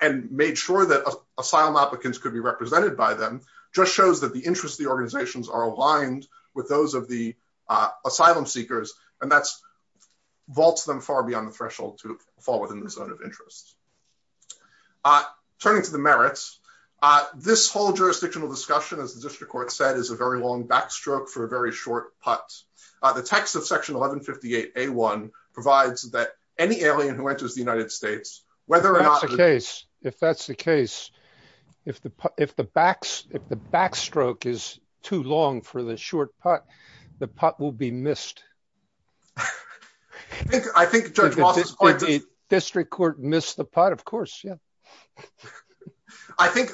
and made sure that asylum applicants could be represented by them just shows that the interests of the organizations are aligned with those of the asylum seekers, and that's vaults them far beyond the threshold to fall within the zone of interest. Turning to the merits, this whole jurisdictional discussion, as the district court said, is a very long backstroke for a very short putt. The text of section 1158a1 provides that any If that's the case, if the backstroke is too long for the short putt, the putt will be missed. I think Judge Walsh's point is... District court missed the putt, of course, yeah. I think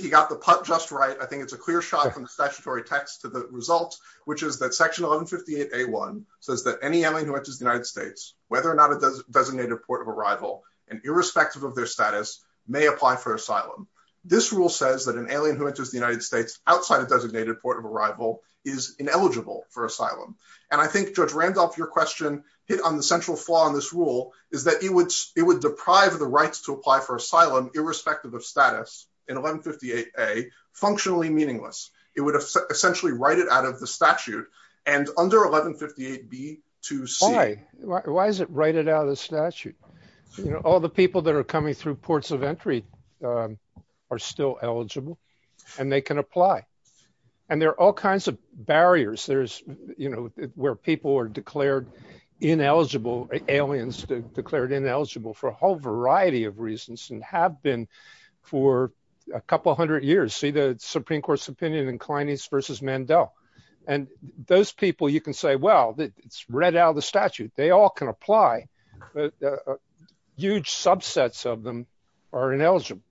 he got the putt just right. I think it's a clear shot from the statutory text to the result, which is that section 1158a1 says that any alien who enters the United States, whether or not a designated port of arrival, and irrespective of their status, may apply for asylum. This rule says that an alien who enters the United States outside a designated port of arrival is ineligible for asylum. I think, Judge Randolph, your question hit on the central flaw in this rule, is that it would deprive the rights to apply for asylum, irrespective of status, in 1158a, functionally meaningless. It would essentially write it out of the statute, and under 1158b, to see... Why? Why is it write it out of the statute? All the people that are coming through ports of entry are still eligible, and they can apply. There are all kinds of barriers. There's, where people are declared ineligible, aliens declared ineligible for a whole variety of reasons, and have been for a couple hundred years. See the Supreme Court's opinion in and those people, you can say, well, it's read out of the statute. They all can apply. Huge subsets of them are ineligible.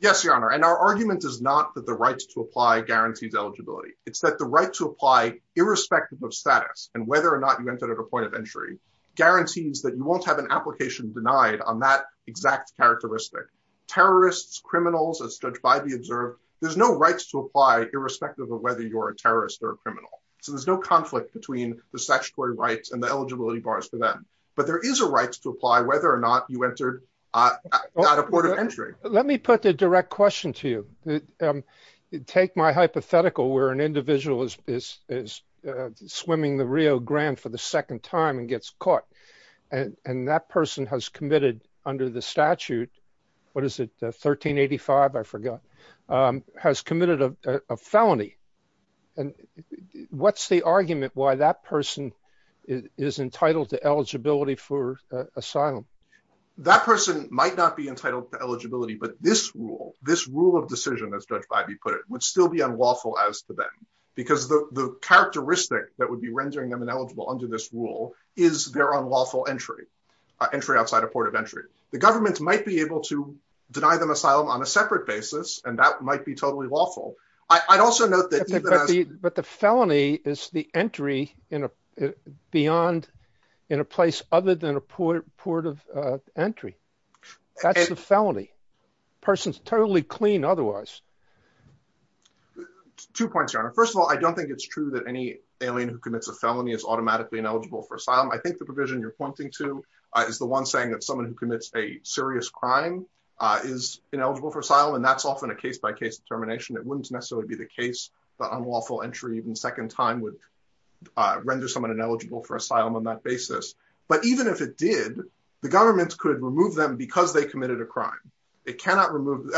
Yes, Your Honor, and our argument is not that the rights to apply guarantees eligibility. It's that the right to apply, irrespective of status, and whether or not you entered at a point of entry, guarantees that you won't have an application denied on that exact characteristic. Terrorists, criminals, as judged by the observed, there's no rights to apply irrespective of whether you're a terrorist or a criminal. So there's no conflict between the statutory rights and the eligibility bars for them, but there is a right to apply whether or not you entered at a port of entry. Let me put the direct question to you. Take my hypothetical where an individual is swimming the Rio Grande for the second time and gets caught, and that person has committed under the statute, what is it, 1385, I forgot, has committed a felony. And what's the argument why that person is entitled to eligibility for asylum? That person might not be entitled to eligibility, but this rule, this rule of decision, as Judge Bybee put it, would still be unlawful as to them, because the characteristic that would be rendering them ineligible under this rule is their unlawful entry, entry outside a port of and that might be totally lawful. I'd also note that... But the felony is the entry beyond, in a place other than a port of entry. That's the felony. Person's totally clean otherwise. Two points, Your Honor. First of all, I don't think it's true that any alien who commits a felony is automatically ineligible for asylum. I think the provision you're pointing to is the one saying that someone who commits a serious crime is ineligible for asylum, and that's often a case-by-case determination. It wouldn't necessarily be the case that unlawful entry even second time would render someone ineligible for asylum on that basis. But even if it did, the government could remove them because they committed a crime. It cannot remove...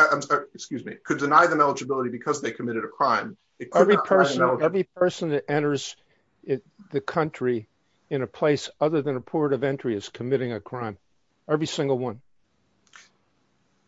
Excuse me. Could deny them eligibility because they committed a crime. Every person that enters the country in a place other than a port of entry is committing a crime. Every single one.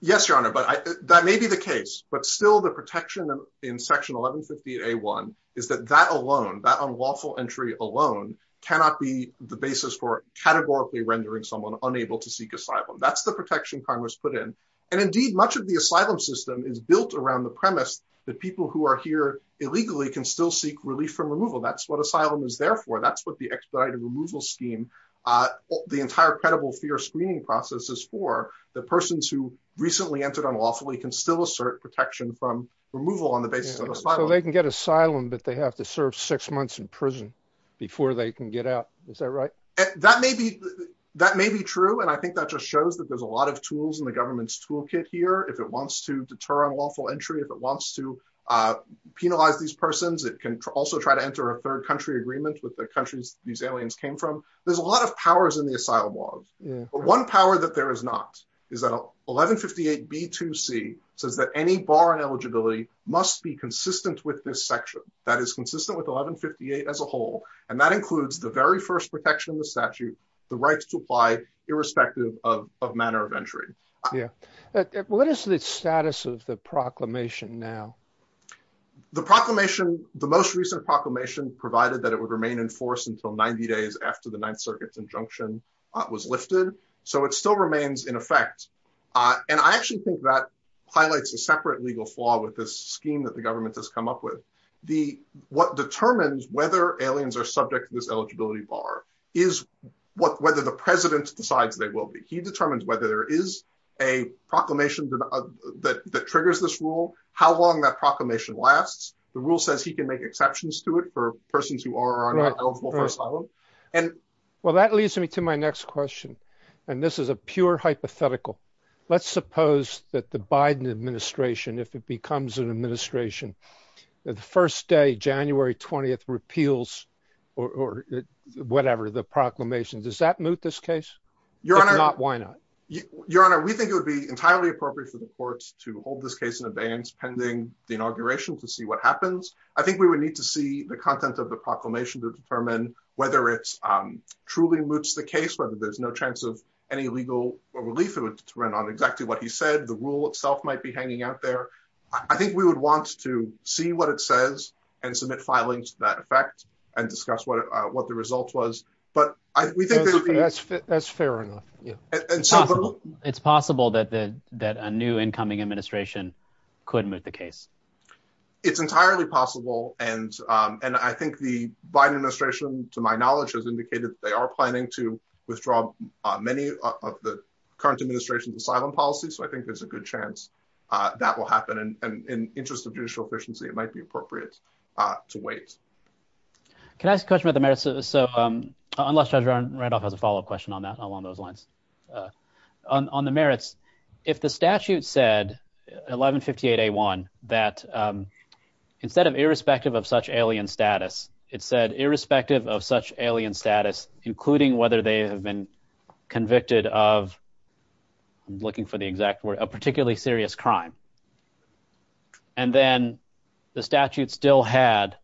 Yes, Your Honor. But that may be the case, but still the protection in Section 1150A1 is that that alone, that unlawful entry alone, cannot be the basis for categorically rendering someone unable to seek asylum. That's the protection Congress put in. And indeed, much of the asylum system is built around the premise that people who are here illegally can still seek relief from removal. That's what asylum is there for. That's what the expedited removal scheme, the entire credible fear screening process is for. The persons who recently entered unlawfully can still assert protection from removal on the basis of asylum. So they can get asylum, but they have to serve six months in prison before they can get out. Is that right? That may be true. And I think that just shows that there's a lot of tools in the government's toolkit here. If it wants to deter unlawful entry, if it wants to penalize these persons, it can also try to enter a third country agreement with the countries these aliens came from. There's a lot of powers in the asylum laws. But one power that there is not is that 1158B2C says that any bar on eligibility must be consistent with this section. That is consistent with 1158 as a whole. And that includes the very first protection of the statute, the rights to apply, irrespective of manner of entry. What is the status of the proclamation now? The proclamation, the most recent proclamation provided that it would remain in force until 90 days after the Ninth Circuit's injunction was lifted. So it still remains in effect. And I actually think that highlights a separate legal flaw with this scheme that the government has come up with. What determines whether aliens are subject to this eligibility bar is whether the president decides they will be. He determines whether there is a proclamation that triggers this rule, how long that proclamation lasts. The rule says he can make exceptions to it for persons who are eligible for asylum. And well, that leads me to my next question. And this is a pure hypothetical. Let's suppose that the Biden administration, if it becomes an administration, the first day, January 20th, repeals or whatever the proclamation, does that move this case? Why not? Your Honor, we think it would be entirely appropriate for the courts to hold this case pending the inauguration to see what happens. I think we would need to see the content of the proclamation to determine whether it truly moots the case, whether there's no chance of any legal relief to run on exactly what he said. The rule itself might be hanging out there. I think we would want to see what it says and submit filings to that effect and discuss what the result was. But we think that's fair enough. And so it's possible that a new incoming administration could move the case. It's entirely possible. And I think the Biden administration, to my knowledge, has indicated they are planning to withdraw many of the current administration's asylum policies. So I think there's a good chance that will happen. And in interest of judicial efficiency, it might be appropriate to wait. Can I ask a question about the merits? So unless Judge Randolph has a follow-up question on that along those lines. On the merits, if the statute said, 1158A1, that instead of irrespective of such alien status, it said irrespective of such alien status, including whether they have been convicted of, I'm looking for the exact word, a particularly serious crime, and then the statute still had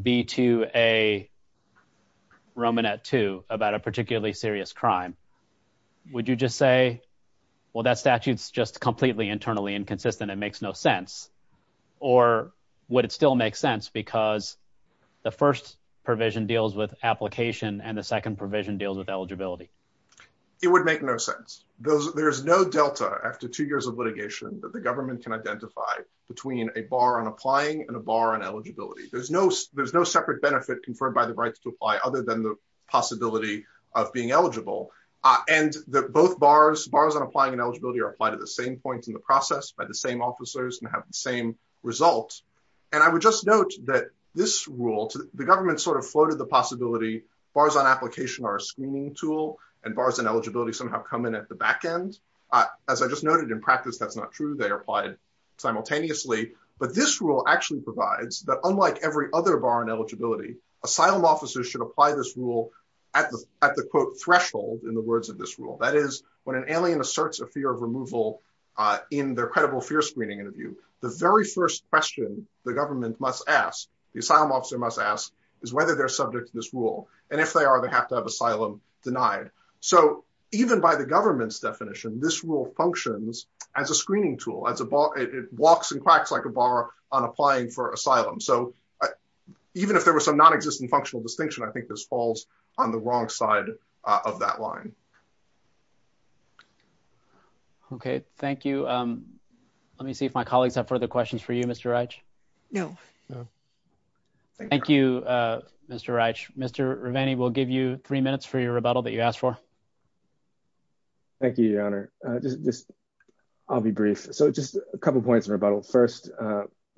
B2A Romanet II about a particularly serious crime, would you just say, well, that statute's just completely internally inconsistent, it makes no sense, or would it still make sense because the first provision deals with application and the second provision deals with eligibility? It would make no sense. There's no delta after two years of litigation that the government can identify between a bar on applying and a bar on eligibility. There's no separate benefit conferred by the rights to apply other than the possibility of being eligible. And both bars, bars on applying and eligibility are applied at the same point in the process by the same officers and have the same result. And I would just note that this rule, the government sort of floated the possibility, bars on application are a screening tool, and bars on eligibility somehow come in at the back end. As I just noted, in practice, that's not true, they are applied simultaneously. But this rule actually provides that unlike every other bar on eligibility, asylum officers should apply this rule at the quote, threshold in the words of this rule, that is, when an alien asserts a fear of removal, in their credible fear screening interview, the very first question the government must ask, the asylum officer must ask is whether they're subject to this rule. And if they are, they have to have asylum denied. So even by the government's definition, this rule functions as a screening tool as a bar, it walks and cracks like a bar on applying for asylum. So even if there was some non existent functional distinction, I think this falls on the wrong side of that line. Okay, thank you. Let me see if my colleagues have any further questions for you, Mr. Reich. No. Thank you, Mr. Reich. Mr. Rivani will give you three minutes for your rebuttal that you asked for. Thank you, Your Honor. I'll be brief. So just a couple points of rebuttal. First,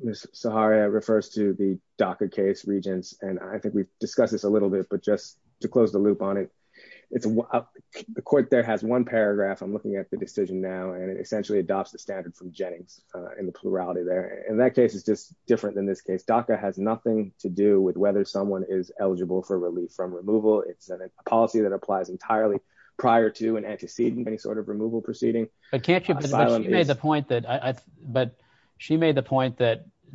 Ms. Zaharia refers to the DACA case, Regents, and I think we've discussed this a little bit, but just to close the loop on it. The court there has one paragraph, I'm looking at the decision now, and it essentially adopts the standard from Jennings in the plurality there. And that case is just different than this case. DACA has nothing to do with whether someone is eligible for relief from removal. It's a policy that applies entirely prior to and antecedent any sort of removal proceeding. But she made the point that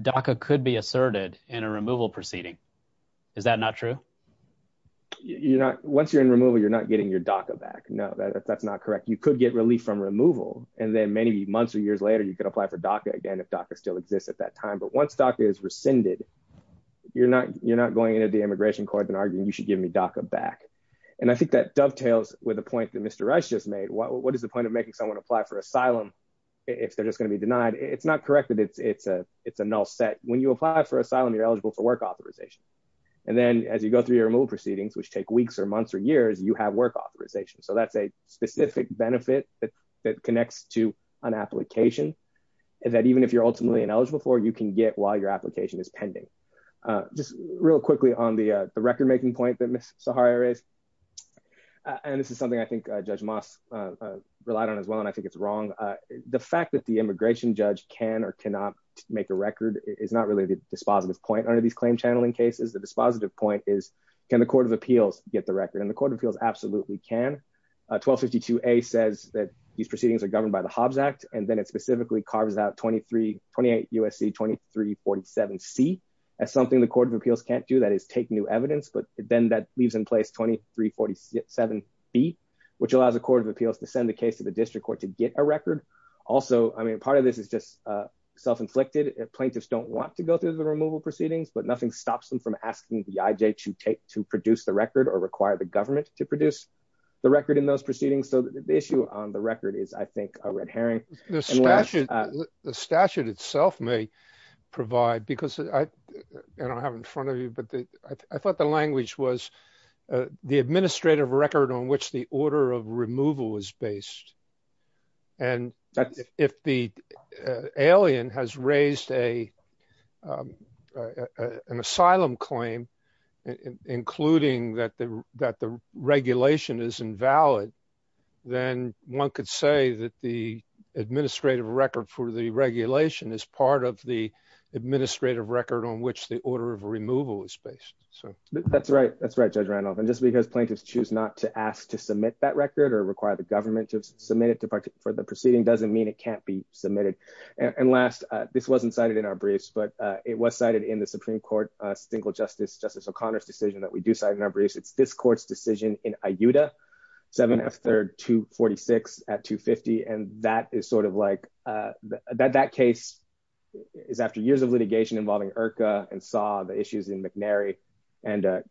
DACA could be asserted in a removal proceeding. Is that not true? Once you're in removal, you're not getting your DACA back. No, that's not correct. You could get relief from removal. And then many months or years later, you could apply for DACA again, if DACA still exists at that time. But once DACA is rescinded, you're not going into the immigration court and arguing you should give me DACA back. And I think that dovetails with a point that Mr. Rice just made. What is the point of making someone apply for asylum if they're just going to be denied? It's not correct that it's a null set. When you apply for asylum, you're eligible for work authorization. And then as you go through your removal proceedings, which take weeks or months or years, you have work authorization. So that's a specific benefit that connects to an application that even if you're ultimately ineligible for, you can get while your application is pending. Just real quickly on the record making point that Ms. Sahari raised. And this is something I think Judge Moss relied on as well. And I think it's wrong. The fact that the immigration judge can or cannot make a record is not really the dispositive point under these claim channeling cases. The dispositive point is, can the court of appeals get the record? And the court of appeals absolutely can. 1252A says that these proceedings are governed by the Hobbs Act. And then it specifically carves out 28 U.S.C. 2347C as something the court of appeals can't do. That is take new evidence. But then that leaves in place 2347B, which allows the court of appeals to send the case to the district court to get a record. Also, I mean, part of this is just self-inflicted. Plaintiffs don't want to go through the removal proceedings, but nothing stops them from asking the IJ to produce the record or require the government to produce the record in those proceedings. So the issue on the record is, I think, a red herring. The statute itself may provide, because I don't have in front of you, but I thought the language was the administrative record on which the order of removal is based. And if the alien has raised an asylum claim, including that the regulation is invalid, then one could say that the administrative record for the regulation is part of the administrative record on which the order of removal is based. So that's right. That's right, Judge Randolph. And just because plaintiffs choose not to ask to submit that record or require the government to submit it for the briefs, but it was cited in the Supreme Court, single justice, Justice O'Connor's decision that we do cite in our briefs. It's this court's decision in IJUDA 7F 3rd 246 at 250. And that is sort of like that case is after years of litigation involving IRCA and saw the issues in McNary and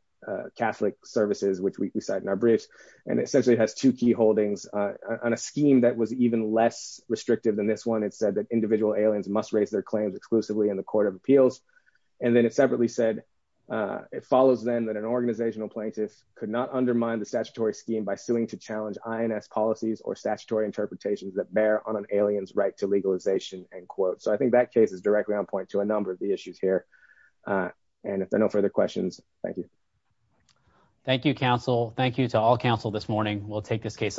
Catholic services, which we cite in our briefs. And essentially it has two key holdings on a scheme that was even less restrictive than this one. It said that individual aliens must raise their claims exclusively in the court of appeals. And then it separately said it follows then that an organizational plaintiff could not undermine the statutory scheme by suing to challenge INS policies or statutory interpretations that bear on an alien's right to legalization. End quote. So I think that case is directly on point to a number of the issues here. And if there are no further questions, thank you. Thank you, counsel. Thank you to all counsel this morning. We'll take this case under submission.